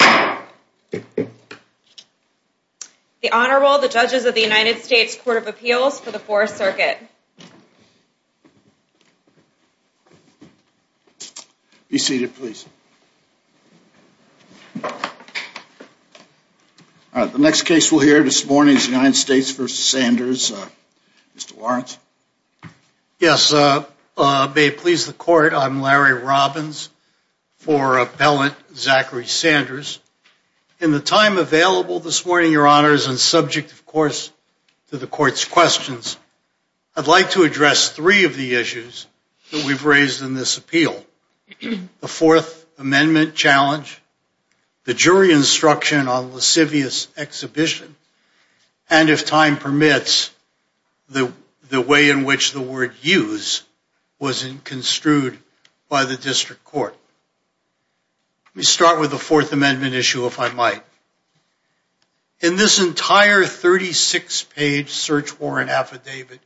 The Honorable, the Judges of the United States Court of Appeals for the Fourth Circuit. Be seated please. The next case we'll hear this morning is the United States v. Sanders. Mr. Lawrence. Yes, may it please the Court, I'm Larry Robbins for Appellant Zackary Sanders. In the time available this morning, Your Honors, and subject of course to the Court's questions, I'd like to address three of the issues that we've raised in this appeal. The Fourth Amendment challenge, the jury instruction on lascivious exhibition, and if time permits, the way in which the word use was construed by the District Court. Let me start with the Fourth Amendment issue if I might. In this entire 36-page search warrant affidavit,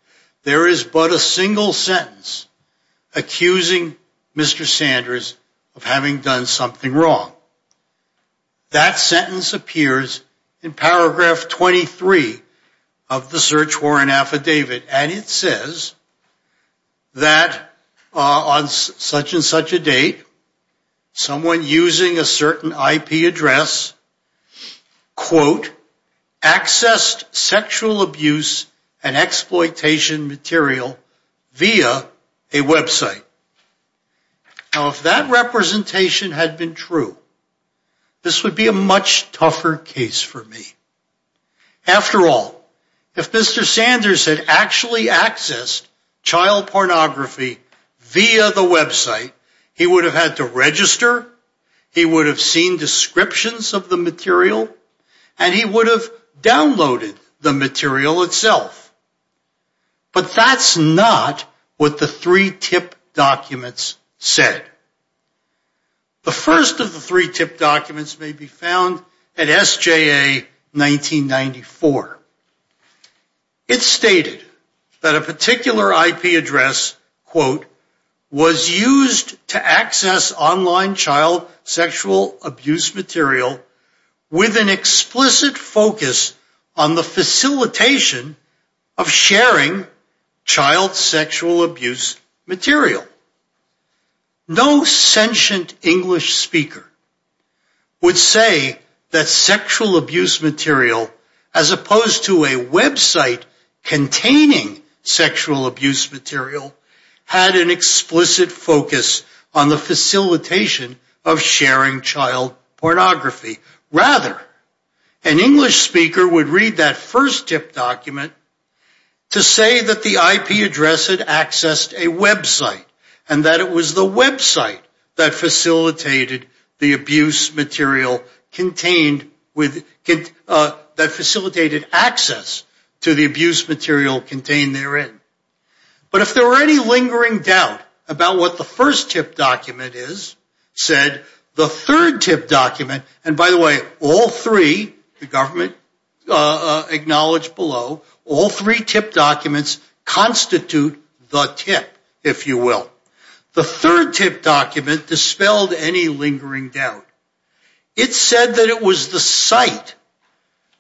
there is but a single sentence accusing Mr. Sanders of having done something wrong. That sentence appears in paragraph 23 of the search warrant affidavit, and it says that on such and such a date, someone using a certain IP address, quote, accessed sexual abuse and exploitation material via a website. Now if that representation had been true, this would be a much tougher case for me. After all, if Mr. Sanders had actually accessed child pornography via the website, he would have had to register, he would have seen descriptions of the material, and he would have downloaded the material itself. But that's not what the three TIP documents said. The first of the three TIP documents may be found at SJA 1994. It stated that a particular IP address, quote, was used to access online child sexual abuse material with an explicit focus on the facilitation of sharing child sexual abuse material. No sentient English speaker would say that sexual abuse material, as opposed to a website containing sexual abuse material, had an explicit focus on the facilitation of sharing child pornography. Rather, an English speaker would read that first TIP document to say that the IP address had accessed a website, and that it was the website that facilitated the abuse material contained with, that facilitated access to the abuse material contained therein. But if there were any lingering doubt about what the first TIP document is, said the third TIP document, and by the way, all three, the government acknowledged below, all three TIP documents constitute the TIP, if you will. The third TIP document dispelled any lingering doubt. It said that it was the site,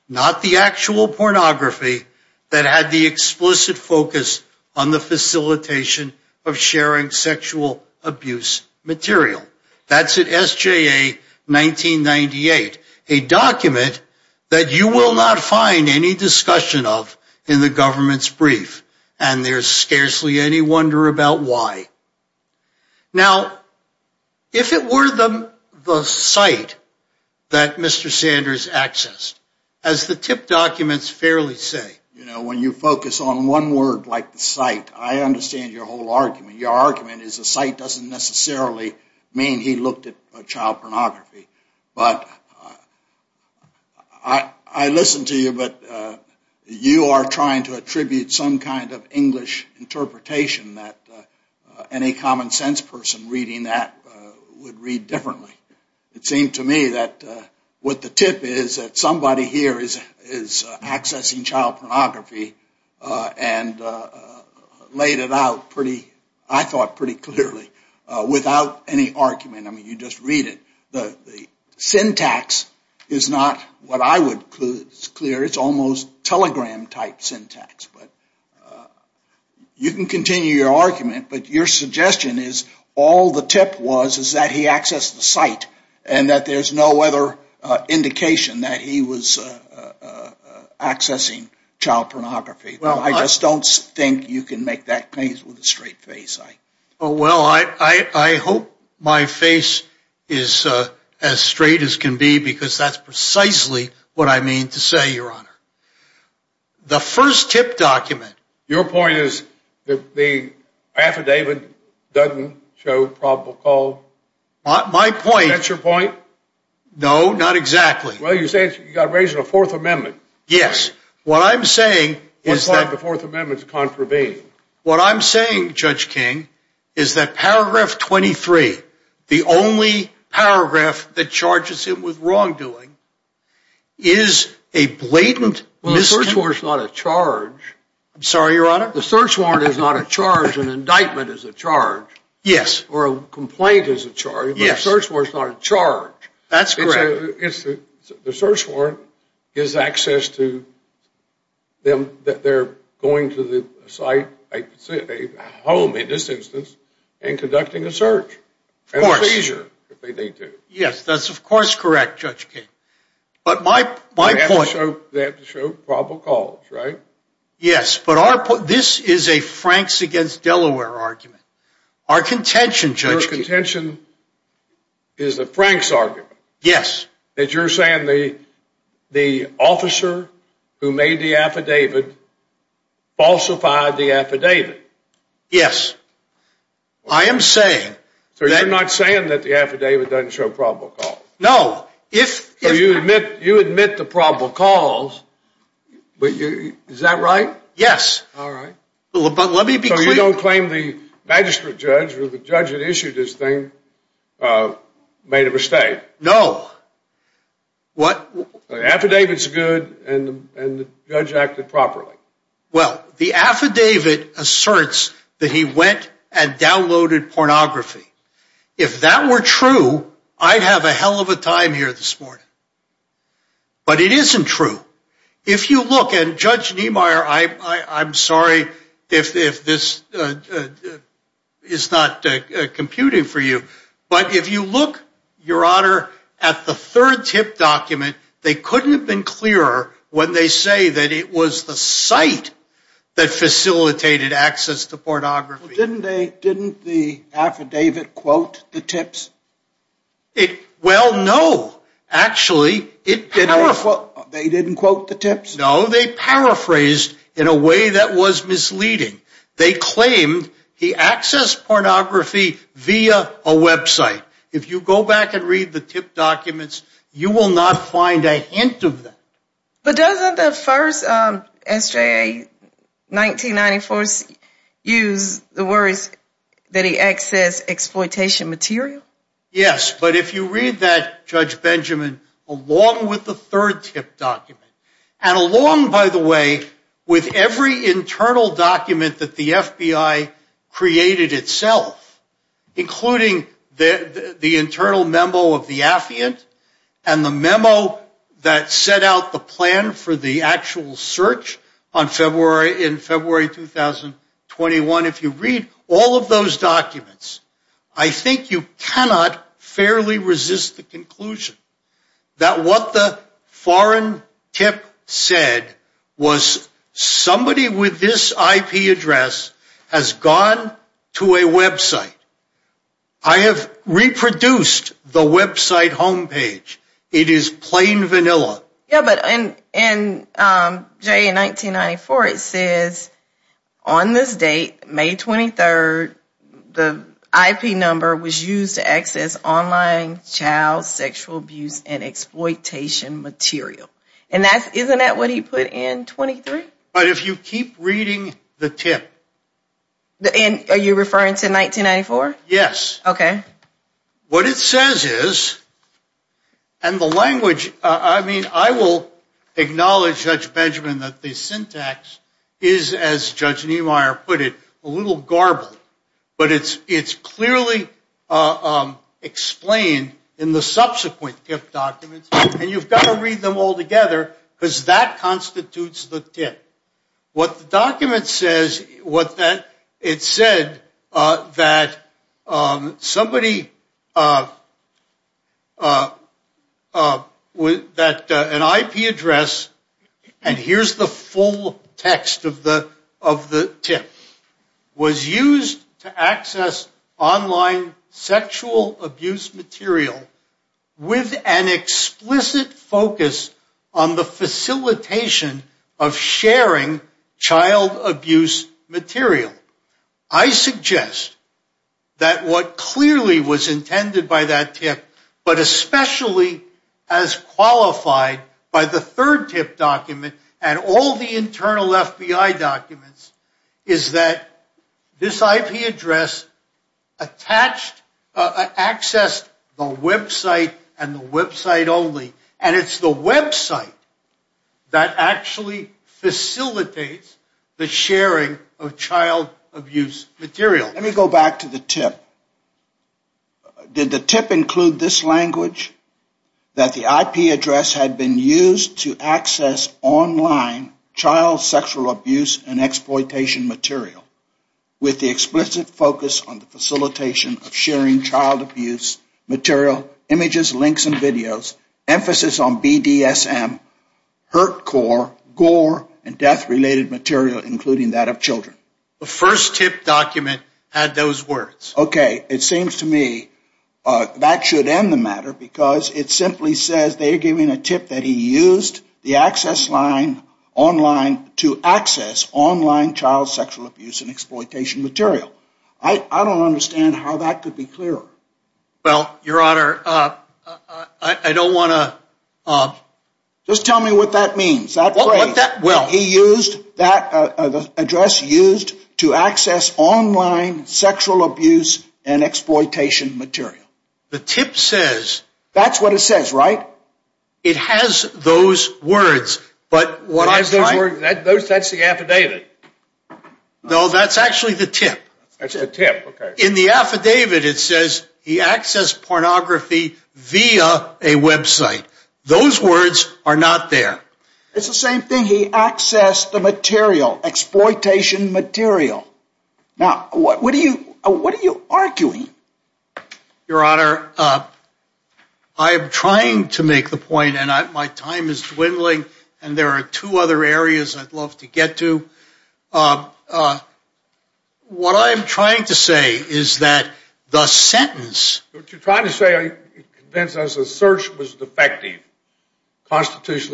not the actual pornography, that had the explicit focus on the facilitation of sharing sexual abuse material. That's at SJA 1998, a document that you will not find any discussion of in the government's brief, and there's scarcely any wonder about why. Now, if it were the site that Mr. Sanders accessed, as the TIP documents fairly say, you know, when you focus on one word like the site, I understand your whole argument. Your argument is the site doesn't necessarily mean he looked at child pornography. But I listen to you, but you are trying to attribute some kind of English interpretation that any common sense person reading that would read differently. It seemed to me that what the TIP is, that somebody here is accessing child pornography and laid it out pretty, I thought, pretty clearly without any argument. I mean, you just read it. The syntax is not what I would clear. It's almost telegram-type syntax. You can continue your argument, but your suggestion is all the TIP was is that he accessed the site and that there's no other indication that he was accessing child pornography. I just don't think you can make that case with a straight face. Well, I hope my face is as straight as can be, because that's precisely what I mean to say, Your Honor. The first TIP document... Your point is that the affidavit doesn't show probable cause? My point... Is that your point? No, not exactly. Well, you're raising a Fourth Amendment. Yes. What I'm saying is that... What part of the Fourth Amendment is contravening? What I'm saying, Judge King, is that paragraph 23, the only paragraph that charges him with wrongdoing, is a blatant... Well, the search warrant's not a charge. I'm sorry, Your Honor? The search warrant is not a charge. An indictment is a charge. Yes. Or a complaint is a charge. Yes. But a search warrant's not a charge. That's correct. The search warrant gives access to them, that they're going to the site, a home in this instance, and conducting a search. Of course. And a seizure, if they need to. Yes, that's of course correct, Judge King. But my point... They have to show probable cause, right? Yes, but this is a Franks against Delaware argument. Our contention, Judge King... Your contention is a Franks argument? Yes. That you're saying the officer who made the affidavit falsified the affidavit? Yes. I am saying... So you're not saying that the affidavit doesn't show probable cause? No. If... So you admit to probable cause, but you... Is that right? Yes. All right. But let me be clear... So you don't claim the magistrate judge or the judge that issued this thing made a mistake? No. What? The affidavit's good, and the judge acted properly. Well, the affidavit asserts that he went and downloaded pornography. If that were true, I'd have a hell of a time here this morning. But it isn't true. If you look... And Judge Niemeyer, I'm sorry if this is not computing for you. But if you look, Your Honor, at the third tip document, they couldn't have been clearer when they say that it was the site that facilitated access to pornography. Didn't the affidavit quote the tips? Well, no. Actually, it didn't. They didn't quote the tips? No. They paraphrased in a way that was misleading. They claimed he accessed pornography via a website. If you go back and read the tip documents, you will not find a hint of that. But doesn't the first S.J.A. 1994 use the words that he accessed exploitation material? Yes. But if you read that, Judge Benjamin, along with the third tip document, and along, by the way, with every internal document that the FBI created itself, including the internal memo of the affiant and the memo that set out the plan for the actual search in February 2021, if you read all of those documents, I think you cannot fairly resist the conclusion that what the foreign tip said was somebody with this IP address has gone to a website. I have reproduced the website homepage. It is plain vanilla. Yeah, but in S.J.A. 1994, it says on this date, May 23rd, the IP number was used to access online child sexual abuse and exploitation material. And isn't that what he put in 23? But if you keep reading the tip. Are you referring to 1994? Yes. Okay. What it says is, and the language, I mean, I will acknowledge, Judge Benjamin, that the syntax is, as Judge Niemeyer put it, a little garbled. But it's clearly explained in the subsequent tip documents. And you've got to read them all together because that constitutes the tip. What the document says, it said that somebody with an IP address, and here's the full text of the tip, was used to access online sexual abuse material with an explicit focus on the facilitation of sharing child abuse material. I suggest that what clearly was intended by that tip, but especially as qualified by the third tip document and all the internal FBI documents, is that this IP address accessed the website and the website only. And it's the website that actually facilitates the sharing of child abuse material. Let me go back to the tip. Did the tip include this language? That the IP address had been used to access online child sexual abuse and exploitation material with the explicit focus on the facilitation of sharing child abuse material, images, links, and videos, emphasis on BDSM, hurt core, gore, and death-related material, including that of children. The first tip document had those words. Okay, it seems to me that should end the matter because it simply says they're giving a tip that he used the access line online to access online child sexual abuse and exploitation material. I don't understand how that could be clearer. Well, Your Honor, I don't want to... Just tell me what that means. He used that address used to access online sexual abuse and exploitation material. The tip says... That's what it says, right? It has those words, but... That's the affidavit. No, that's actually the tip. That's the tip, okay. In the affidavit, it says he accessed pornography via a website. Those words are not there. It's the same thing. He accessed the material, exploitation material. Now, what are you arguing? Your Honor, I am trying to make the point, and my time is dwindling, and there are two other areas I'd love to get to. What I am trying to say is that the sentence... constitutionally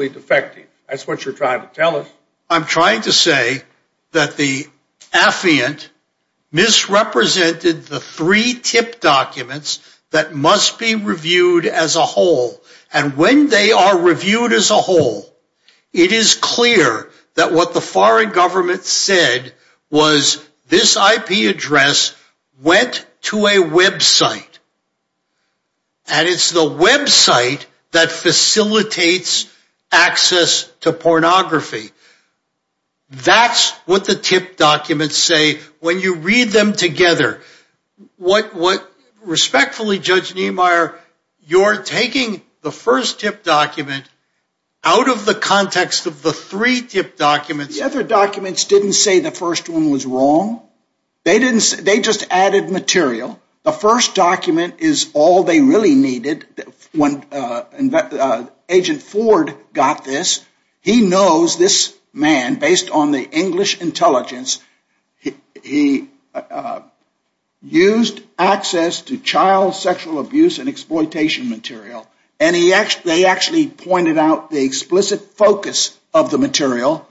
defective. That's what you're trying to tell us. I'm trying to say that the affiant misrepresented the three tip documents that must be reviewed as a whole, and when they are reviewed as a whole, it is clear that what the foreign government said was this IP address went to a website, and it's the website that facilitates access to pornography. That's what the tip documents say when you read them together. Respectfully, Judge Niemeyer, you're taking the first tip document out of the context of the three tip documents. The other documents didn't say the first one was wrong. They just added material. The first document is all they really needed. Agent Ford got this. He knows this man, based on the English intelligence, he used access to child sexual abuse and exploitation material, and they actually pointed out the explicit focus of the material,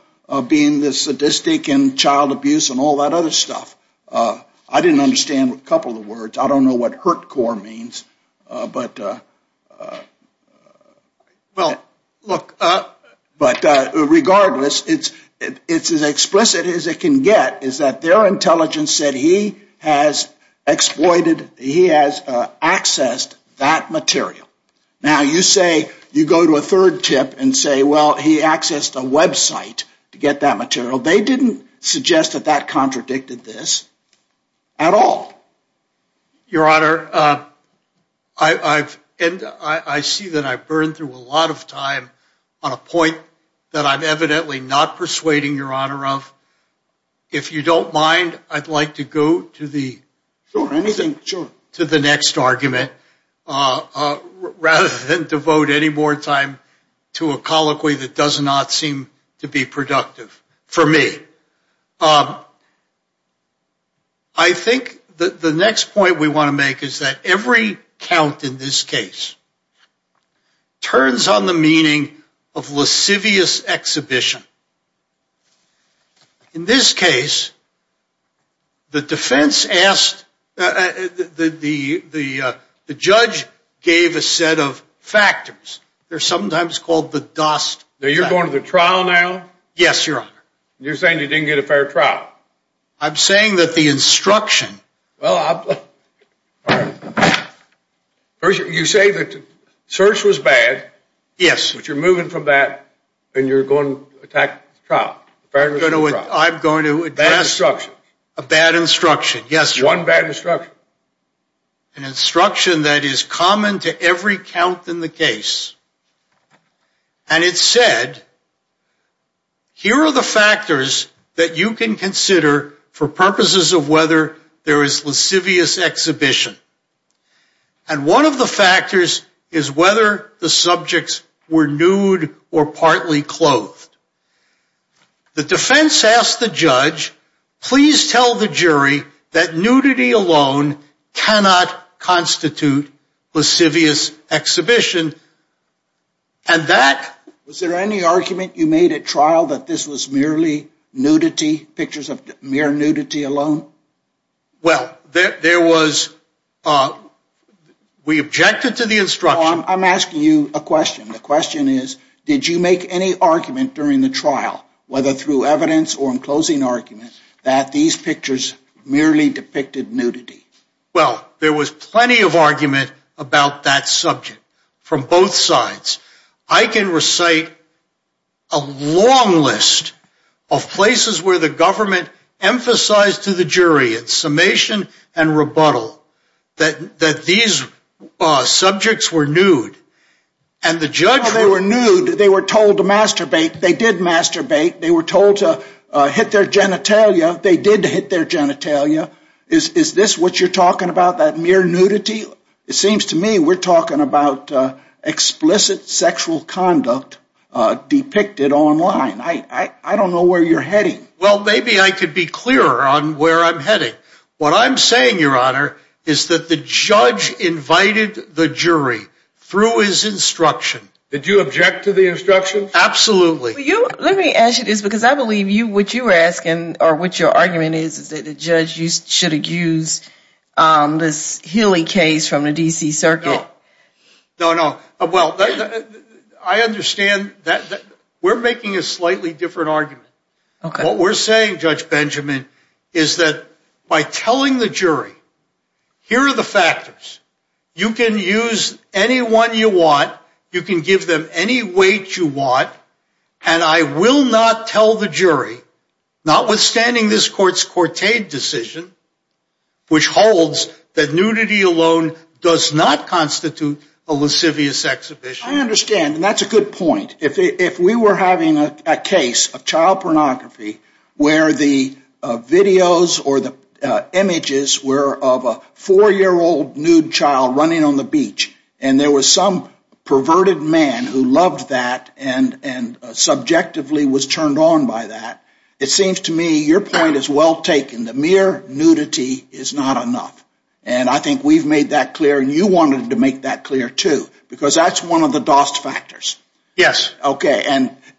being the sadistic and child abuse and all that other stuff. I didn't understand a couple of the words. I don't know what hurt core means, but regardless, it's as explicit as it can get is that their intelligence said he has exploited, he has accessed that material. Now, you say, you go to a third tip and say, well, he accessed a website to get that material. They didn't suggest that that contradicted this at all. Your Honor, I see that I've burned through a lot of time on a point that I'm evidently not persuading your Honor of. If you don't mind, I'd like to go to the next argument rather than devote any more time to a colloquy that does not seem to be productive. For me. I think the next point we want to make is that every count in this case turns on the meaning of lascivious exhibition. In this case, the defense asked, the judge gave a set of factors. They're sometimes called the dust. Now, you're going to the trial now. Yes, Your Honor. You're saying you didn't get a fair trial. I'm saying that the instruction. Well, you say that search was bad. Yes. But you're moving from that and you're going to attack the trial. I'm going to advance. Bad instruction. A bad instruction. Yes, Your Honor. One bad instruction. An instruction that is common to every count in the case. And it said, here are the factors that you can consider for purposes of whether there is lascivious exhibition. And one of the factors is whether the subjects were nude or partly clothed. The defense asked the judge, please tell the jury that nudity alone cannot constitute lascivious exhibition. And that. Was there any argument you made at trial that this was merely nudity, pictures of mere nudity alone? Well, there was. We objected to the instruction. I'm asking you a question. The question is, did you make any argument during the trial, whether through evidence or in closing argument, that these pictures merely depicted nudity? Well, there was plenty of argument about that subject from both sides. I can recite a long list of places where the government emphasized to the jury at summation and rebuttal that these subjects were nude. And the judge. They were nude. They were told to masturbate. They did masturbate. They were told to hit their genitalia. They did hit their genitalia. Is this what you're talking about, that mere nudity? It seems to me we're talking about explicit sexual conduct depicted online. I don't know where you're heading. Well, maybe I could be clearer on where I'm heading. What I'm saying, Your Honor, is that the judge invited the jury through his instruction. Did you object to the instruction? Absolutely. Let me ask you this, because I believe what you were asking or what your argument is, is that the judge should have used this Healy case from the D.C. Circuit. No, no. Well, I understand that. We're making a slightly different argument. What we're saying, Judge Benjamin, is that by telling the jury, here are the factors. You can use any one you want. You can give them any weight you want. And I will not tell the jury, notwithstanding this court's courted decision, which holds that nudity alone does not constitute a lascivious exhibition. I understand. And that's a good point. If we were having a case of child pornography where the videos or the images were of a four-year-old nude child running on the beach, and there was some perverted man who loved that and subjectively was turned on by that, it seems to me your point is well taken. The mere nudity is not enough. And I think we've made that clear, and you wanted to make that clear, too, because that's one of the DOST factors. Yes. Okay.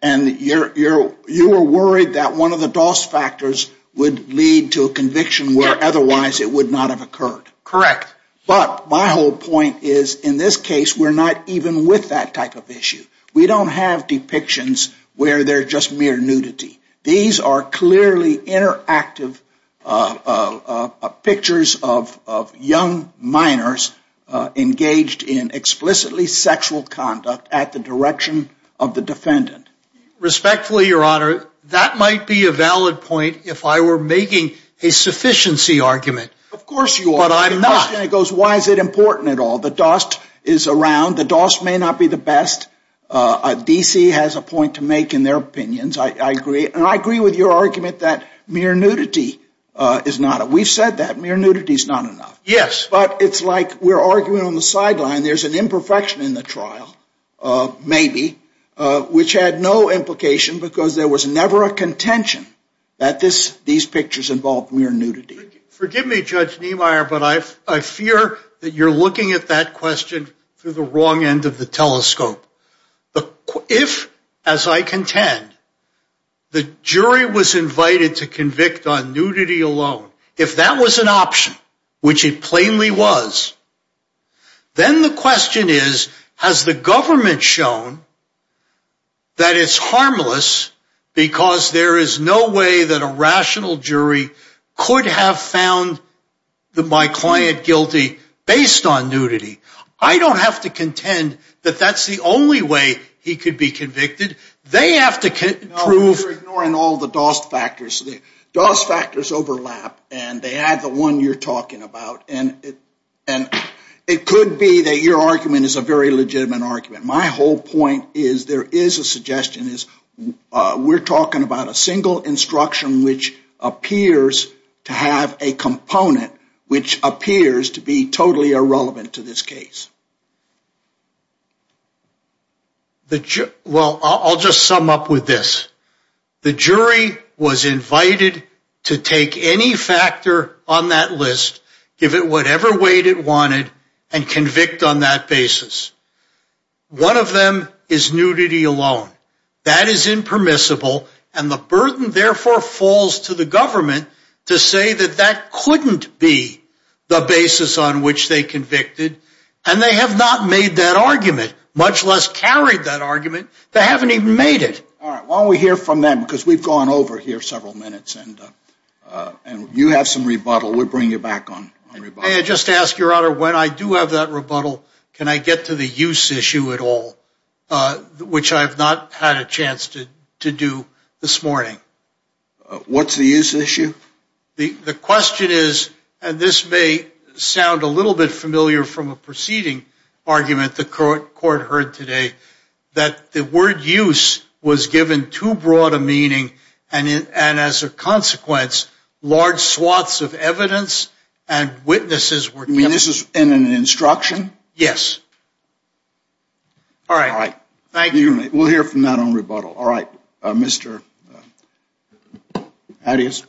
And you were worried that one of the DOST factors would lead to a conviction where otherwise it would not have occurred. Correct. But my whole point is, in this case, we're not even with that type of issue. We don't have depictions where they're just mere nudity. These are clearly interactive pictures of young minors engaged in explicitly sexual conduct at the direction of the defendant. Respectfully, Your Honor, that might be a valid point if I were making a sufficiency argument. Of course you are. But I'm not. The question goes, why is it important at all? The DOST is around. The DOST may not be the best. DC has a point to make in their opinions. I agree. And I agree with your argument that mere nudity is not enough. We've said that. Mere nudity is not enough. Yes. But it's like we're arguing on the sideline. There's an imperfection in the trial, maybe, which had no implication because there was never a contention that these pictures involved mere nudity. Forgive me, Judge Niemeyer, but I fear that you're looking at that question through the wrong end of the telescope. If, as I contend, the jury was invited to convict on nudity alone, if that was an option, which it plainly was, then the question is, has the government shown that it's harmless because there is no way that a rational jury could have found my client guilty based on nudity? I don't have to contend that that's the only way he could be convicted. They have to prove— No, you're ignoring all the DOST factors. The DOST factors overlap, and they add the one you're talking about, and it could be that your argument is a very legitimate argument. My whole point is there is a suggestion. We're talking about a single instruction which appears to have a component which appears to be totally irrelevant to this case. Well, I'll just sum up with this. The jury was invited to take any factor on that list, give it whatever weight it wanted, and convict on that basis. One of them is nudity alone. That is impermissible, and the burden, therefore, falls to the government to say that that couldn't be the basis on which they convicted, and they have not made that argument, much less carried that argument. They haven't even made it. All right. Why don't we hear from them, because we've gone over here several minutes, and you have some rebuttal. We'll bring you back on rebuttal. May I just ask, Your Honor, when I do have that rebuttal, can I get to the use issue at all, which I have not had a chance to do this morning? What's the use issue? The question is, and this may sound a little bit familiar from a preceding argument the court heard today, that the word use was given too broad a meaning, and as a consequence, large swaths of evidence and witnesses were kept. You mean this is in an instruction? Yes. All right. Thank you. We'll hear from that on rebuttal. All right. Mr. Adias.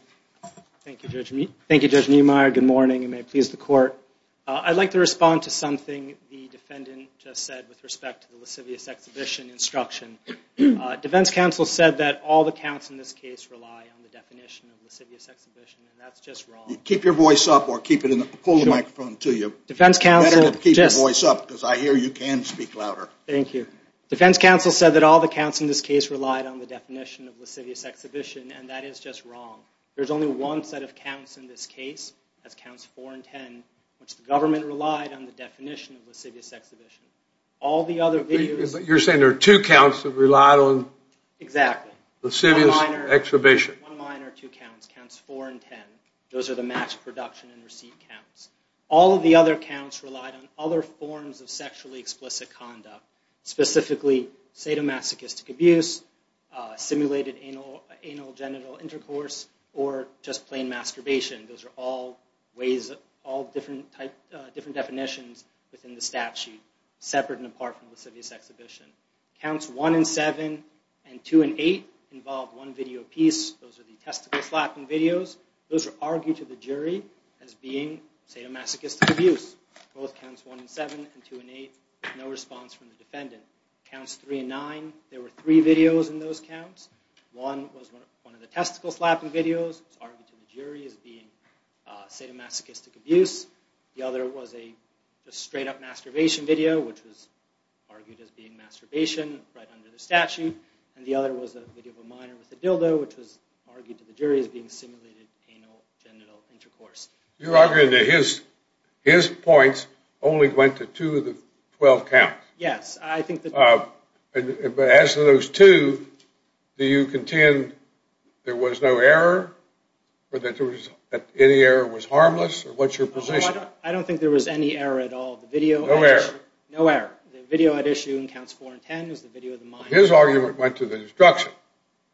Good morning, and may it please the Court. I'd like to respond to something the defendant just said with respect to the lascivious exhibition instruction. Defense counsel said that all the counts in this case rely on the definition of lascivious exhibition, and that's just wrong. Keep your voice up, or keep it in the – pull the microphone to you. Defense counsel – Better keep your voice up, because I hear you can speak louder. Thank you. Defense counsel said that all the counts in this case relied on the definition of lascivious exhibition, and that is just wrong. There's only one set of counts in this case. That's counts 4 and 10, which the government relied on the definition of lascivious exhibition. All the other videos – You're saying there are two counts that relied on – Exactly. – lascivious exhibition. One minor, two counts. Counts 4 and 10. Those are the match production and receipt counts. All of the other counts relied on other forms of sexually explicit conduct, specifically sadomasochistic abuse, simulated anal-genital intercourse, or just plain masturbation. Those are all ways – all different definitions within the statute, separate and apart from lascivious exhibition. Counts 1 and 7 and 2 and 8 involved one video a piece. Those are the testicle slapping videos. Those are argued to the jury as being sadomasochistic abuse. Both counts 1 and 7 and 2 and 8, no response from the defendant. Counts 3 and 9, there were three videos in those counts. One was one of the testicle slapping videos. It was argued to the jury as being sadomasochistic abuse. The other was a straight-up masturbation video, which was argued as being masturbation right under the statute. And the other was a video of a minor with a dildo, which was argued to the jury as being simulated anal-genital intercourse. You're arguing that his points only went to two of the 12 counts. Yes, I think that – But as to those two, do you contend there was no error, or that any error was harmless, or what's your position? I don't think there was any error at all. No error? No error. The video at issue in counts 4 and 10 is the video of the minor. His argument went to the instruction.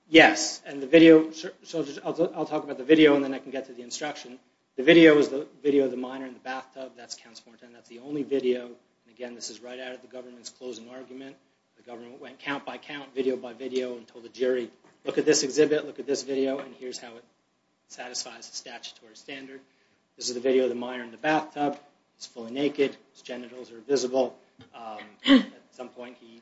Yes, and the video – so I'll talk about the video, and then I can get to the instruction. The video is the video of the minor in the bathtub. That's counts 4 and 10. That's the only video. Again, this is right out of the government's closing argument. The government went count by count, video by video, and told the jury, look at this exhibit, look at this video, and here's how it satisfies the statutory standard. This is the video of the minor in the bathtub. He's fully naked. His genitals are visible. At some point, he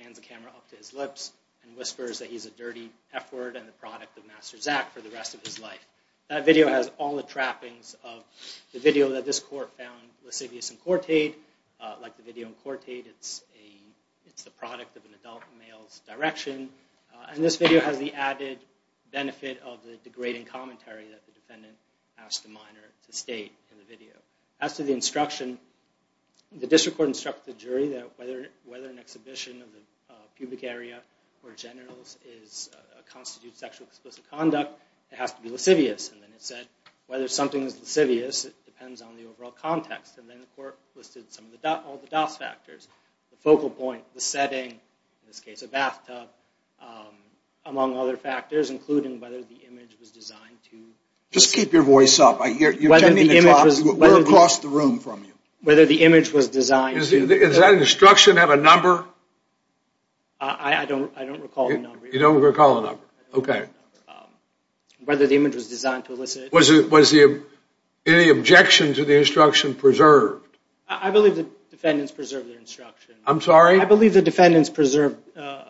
pans the camera up to his lips and whispers that he's a dirty F-word and the product of Master Zack for the rest of his life. That video has all the trappings of the video that this court found lascivious in court aid. Like the video in court aid, it's the product of an adult male's direction. And this video has the added benefit of the degrading commentary that the defendant asked the minor to state in the video. As to the instruction, the district court instructed the jury that whether an exhibition of the pubic area or genitals constitutes sexual explicit conduct, it has to be lascivious. And then it said, whether something is lascivious, it depends on the overall context. And then the court listed all the dos factors, the focal point, the setting, in this case a bathtub, among other factors, including whether the image was designed to... Just keep your voice up. You're tending the clock. We're across the room from you. Whether the image was designed to... Does that instruction have a number? I don't recall a number. You don't recall a number. Okay. Whether the image was designed to elicit... Was any objection to the instruction preserved? I believe the defendants preserved their instruction. I'm sorry? I believe the defendants preserved...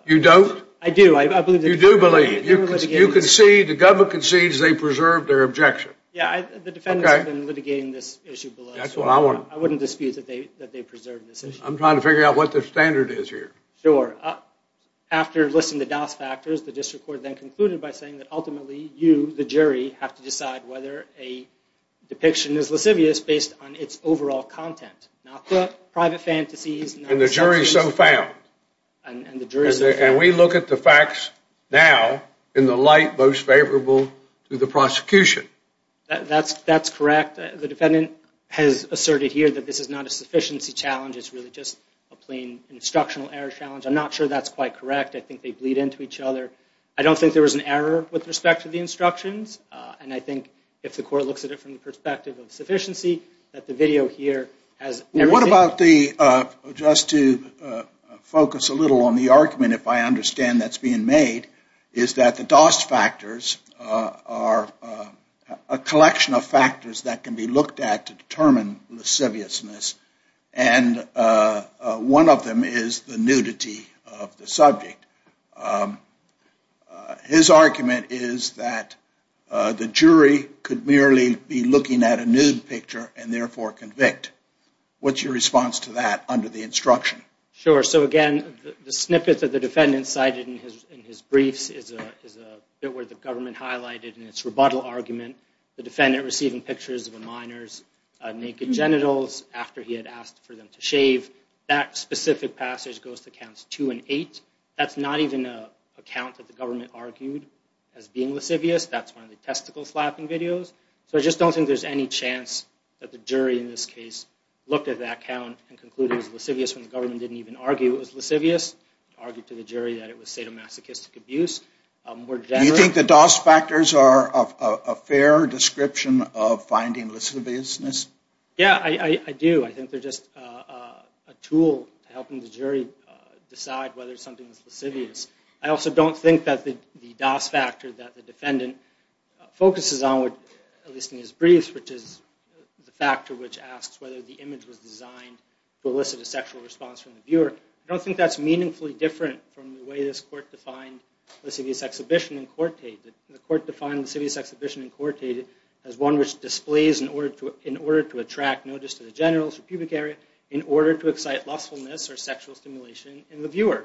You don't? I do. You do believe. You concede, the government concedes they preserved their objection. Yeah, the defendants have been litigating this issue. That's what I want. I wouldn't dispute that they preserved this issue. I'm trying to figure out what the standard is here. Sure. After listing the dos factors, the district court then concluded by saying that ultimately you, the jury, have to decide whether a depiction is lascivious based on its overall content, not the private fantasies... And the jury so found. And the jury so found. And we look at the facts now in the light most favorable to the prosecution. That's correct. The defendant has asserted here that this is not a sufficiency challenge. It's really just a plain instructional error challenge. I'm not sure that's quite correct. I think they bleed into each other. I don't think there was an error with respect to the instructions. And I think if the court looks at it from the perspective of sufficiency, that the video here has... What about the... Just to focus a little on the argument, if I understand that's being made, is that the dos factors are a collection of factors that can be looked at to determine lasciviousness. And one of them is the nudity of the subject. His argument is that the jury could merely be looking at a nude picture and therefore convict. What's your response to that under the instruction? Sure. So again, the snippet that the defendant cited in his briefs is a bit where the government highlighted in its rebuttal argument. The defendant receiving pictures of a minor's naked genitals after he had asked for them to shave. That specific passage goes to counts two and eight. That's not even a count that the government argued as being lascivious. That's one of the testicle flapping videos. So I just don't think there's any chance that the jury in this case looked at that count and concluded it was lascivious when the government didn't even argue it was lascivious. Argued to the jury that it was sadomasochistic abuse. Do you think the dos factors are a fair description of finding lasciviousness? Yeah, I do. I think they're just a tool to helping the jury decide whether something is lascivious. I also don't think that the dos factor that the defendant focuses on, at least in his briefs, which is the factor which asks whether the image was designed to elicit a sexual response from the viewer, I don't think that's meaningfully different from the way this court defined lascivious exhibition in Cortate. The court defined lascivious exhibition in Cortate as one which displays, in order to attract notice to the genitals or pubic area, in order to excite lustfulness or sexual stimulation in the viewer.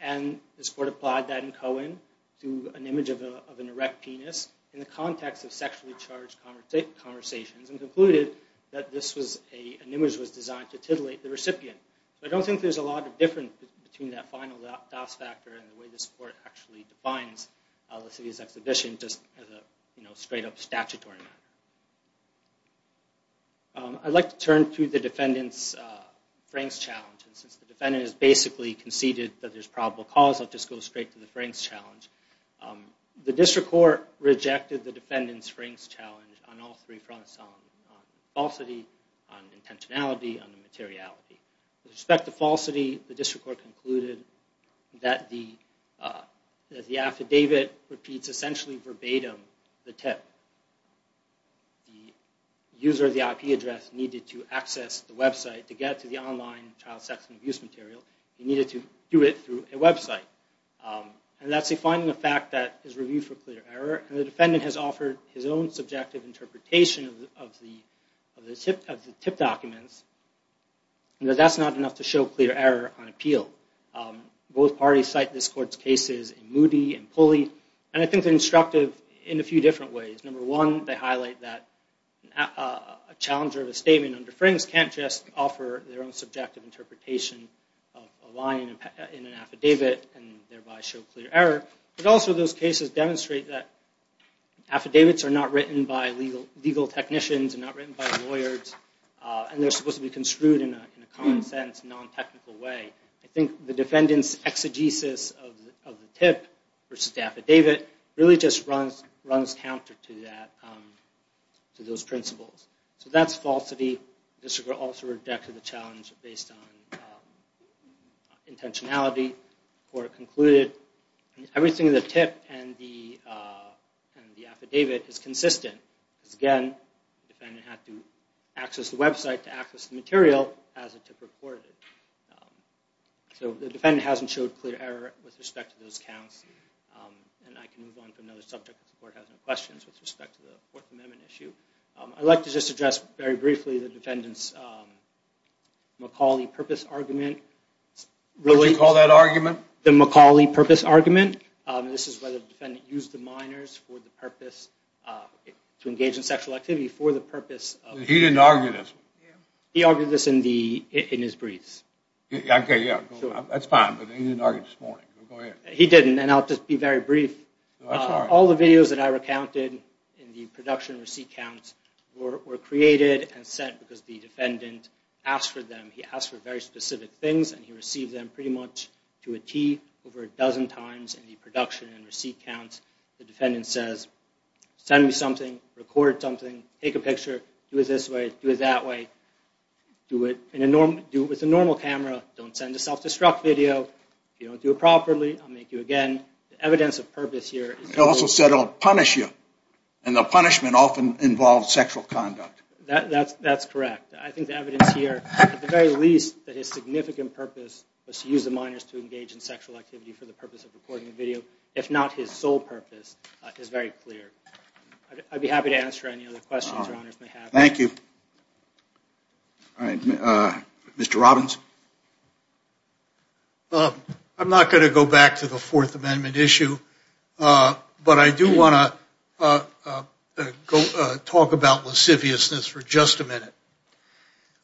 And this court applied that in Cohen to an image of an erect penis in the context of sexually charged conversations and concluded that an image was designed to titillate the recipient. I don't think there's a lot of difference between that final dos factor and the way this court actually defines lascivious exhibition, just as a straight-up statutory matter. I'd like to turn to the defendant's Franks challenge. Since the defendant has basically conceded that there's probable cause, I'll just go straight to the Franks challenge. The district court rejected the defendant's Franks challenge on all three fronts, on falsity, on intentionality, on the materiality. With respect to falsity, the district court concluded that the affidavit repeats essentially verbatim the tip. The user of the IP address needed to access the website to get to the online child sex and abuse material. He needed to do it through a website. That's a finding of fact that is reviewed for clear error. The defendant has offered his own subjective interpretation of the tip documents, but that's not enough to show clear error on appeal. Both parties cite this court's cases in Moody and Pulley, and I think they're instructive in a few different ways. Number one, they highlight that a challenger of a statement under Franks can't just offer their own subjective interpretation of a line in an affidavit and thereby show clear error, but also those cases demonstrate that affidavits are not written by legal technicians, they're not written by lawyers, and they're supposed to be construed in a common sense, non-technical way. I think the defendant's exegesis of the tip versus the affidavit really just runs counter to those principles. So that's falsity. The district also rejected the challenge based on intentionality. The court concluded everything in the tip and the affidavit is consistent. Because again, the defendant had to access the website to access the material as the tip reported. So the defendant hasn't showed clear error with respect to those counts, and I can move on to another subject if the court has any questions with respect to the Fourth Amendment issue. I'd like to just address very briefly the defendant's McCauley purpose argument. What did you call that argument? The McCauley purpose argument. This is whether the defendant used the minors to engage in sexual activity for the purpose of... He didn't argue this. He argued this in his briefs. Okay, yeah, that's fine, but he didn't argue this morning. He didn't, and I'll just be very brief. All the videos that I recounted in the production receipt counts were created and sent because the defendant asked for them. He asked for very specific things, and he received them pretty much to a T over a dozen times in the production and receipt counts. The defendant says, send me something, record something, take a picture, do it this way, do it that way, do it with a normal camera, don't send a self-destruct video. If you don't do it properly, I'll make you again. The evidence of purpose here... He also said, I'll punish you, and the punishment often involves sexual conduct. That's correct. I think the evidence here, at the very least, that his significant purpose was to use the minors to engage in sexual activity for the purpose of recording a video, if not his sole purpose, is very clear. I'd be happy to answer any other questions your honors may have. Thank you. All right, Mr. Robbins. I'm not going to go back to the Fourth Amendment issue, but I do want to talk about lasciviousness for just a minute.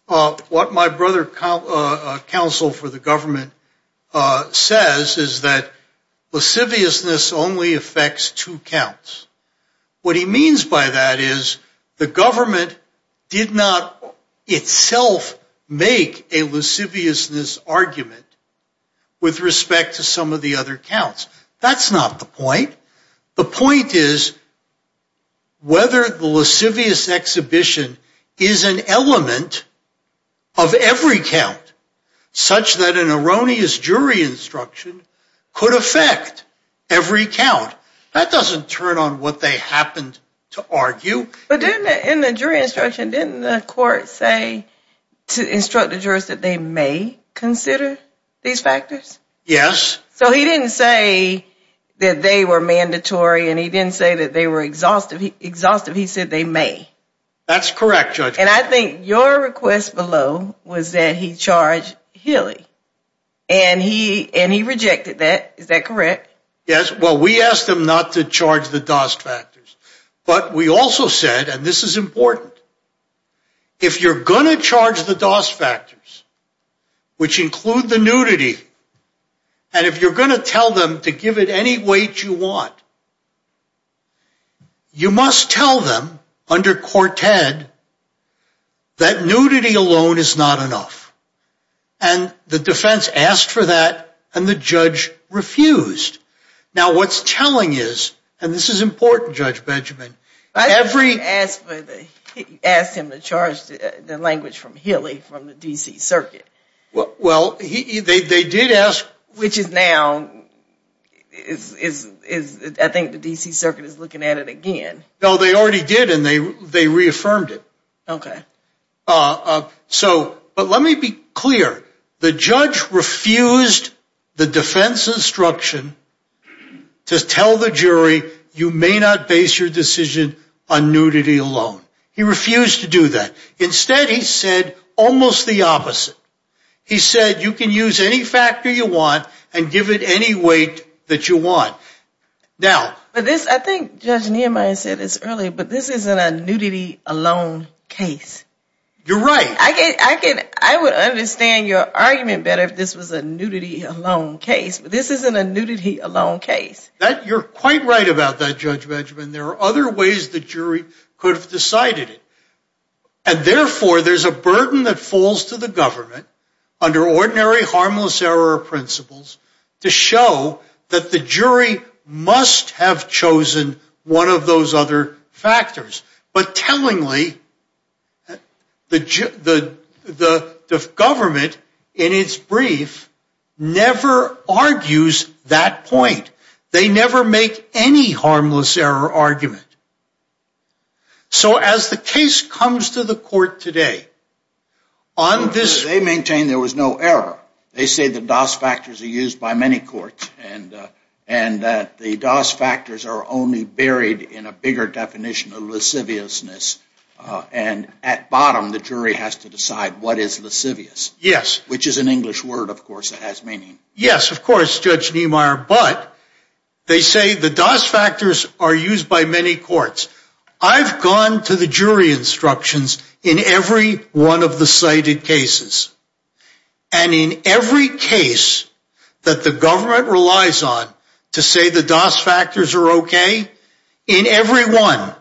What my brother counsel for the government says is that lasciviousness only affects two counts. What he means by that is the government did not itself make a lasciviousness argument with respect to some of the other counts. That's not the point. The point is whether the lascivious exhibition is an element of every count, such that an erroneous jury instruction could affect every count. That doesn't turn on what they happened to argue. But in the jury instruction, didn't the court say to instruct the jurors that they may consider these factors? Yes. So he didn't say that they were mandatory, and he didn't say that they were exhaustive. He said they may. That's correct, Judge. And I think your request below was that he charge Healy, and he rejected that. Is that correct? Yes. Well, we asked him not to charge the Dost factors. But we also said, and this is important, if you're going to charge the Dost factors, which include the nudity, and if you're going to tell them to give it any weight you want, you must tell them under Quartet that nudity alone is not enough. And the defense asked for that, and the judge refused. Now what's telling is, and this is important, Judge Benjamin. I asked him to charge the language from Healy from the D.C. Circuit. Well, they did ask. Which is now, I think the D.C. Circuit is looking at it again. No, they already did, and they reaffirmed it. Okay. But let me be clear. The judge refused the defense instruction to tell the jury you may not base your decision on nudity alone. He refused to do that. Instead, he said almost the opposite. He said you can use any factor you want and give it any weight that you want. I think Judge Nehemiah said this earlier, but this isn't a nudity alone case. You're right. I would understand your argument better if this was a nudity alone case, but this isn't a nudity alone case. You're quite right about that, Judge Benjamin. There are other ways the jury could have decided it, and therefore there's a burden that falls to the government under ordinary harmless error principles to show that the jury must have chosen one of those other factors. But tellingly, the government, in its brief, never argues that point. They never make any harmless error argument. So as the case comes to the court today on this. They maintain there was no error. They say the DOS factors are used by many courts, and that the DOS factors are only buried in a bigger definition of lasciviousness. And at bottom, the jury has to decide what is lascivious. Yes. Which is an English word, of course, that has meaning. Yes, of course, Judge Nehemiah. But they say the DOS factors are used by many courts. I've gone to the jury instructions in every one of the cited cases. And in every case that the government relies on to say the DOS factors are okay, in every one,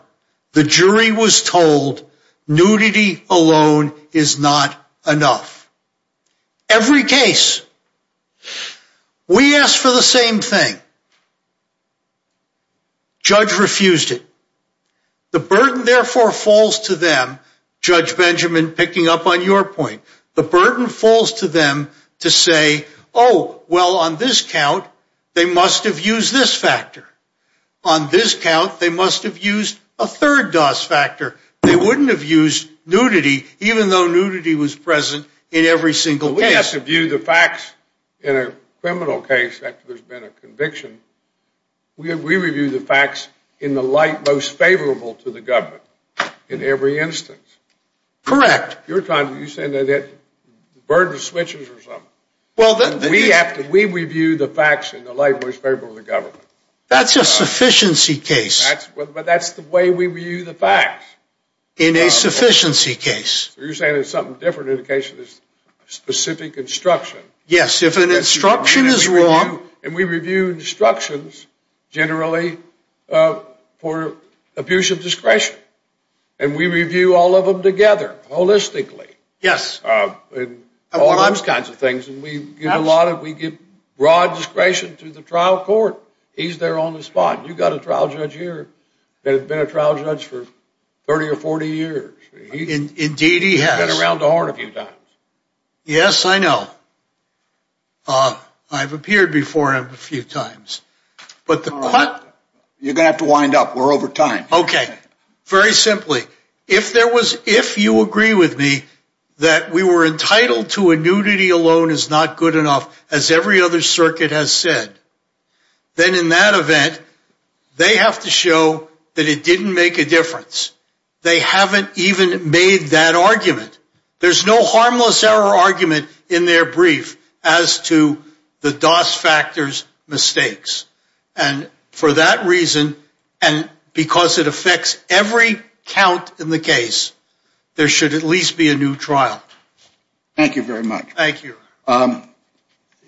the jury was told nudity alone is not enough. Every case. We asked for the same thing. Judge refused it. The burden, therefore, falls to them, Judge Benjamin, picking up on your point. The burden falls to them to say, oh, well, on this count, they must have used this factor. On this count, they must have used a third DOS factor. They wouldn't have used nudity, even though nudity was present in every single case. We have to view the facts in a criminal case after there's been a conviction. We review the facts in the light most favorable to the government in every instance. Correct. You're saying that the burden switches or something. We review the facts in the light most favorable to the government. That's a sufficiency case. But that's the way we review the facts. In a sufficiency case. You're saying it's something different in the case of a specific instruction. Yes, if an instruction is wrong. And we review instructions, generally, for abuse of discretion. And we review all of them together, holistically. Yes. All those kinds of things. And we give broad discretion to the trial court. He's there on the spot. You've got a trial judge here that has been a trial judge for 30 or 40 years. Indeed, he has. He's been around the Horn a few times. Yes, I know. I've appeared before him a few times. But the court. You're going to have to wind up. We're over time. Okay. Very simply. If you agree with me that we were entitled to a nudity alone is not good enough, as every other circuit has said, then in that event, they have to show that it didn't make a difference. They haven't even made that argument. There's no harmless error argument in their brief as to the DOS factors mistakes. And for that reason, and because it affects every count in the case, there should at least be a new trial. Thank you very much. Thank you.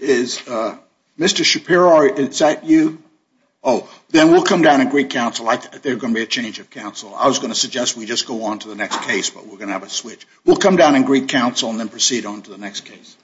Is Mr. Shapiro, is that you? Oh, then we'll come down and greet counsel. There's going to be a change of counsel. I was going to suggest we just go on to the next case, but we're going to have a switch. We'll come down and greet counsel and then proceed on to the next case.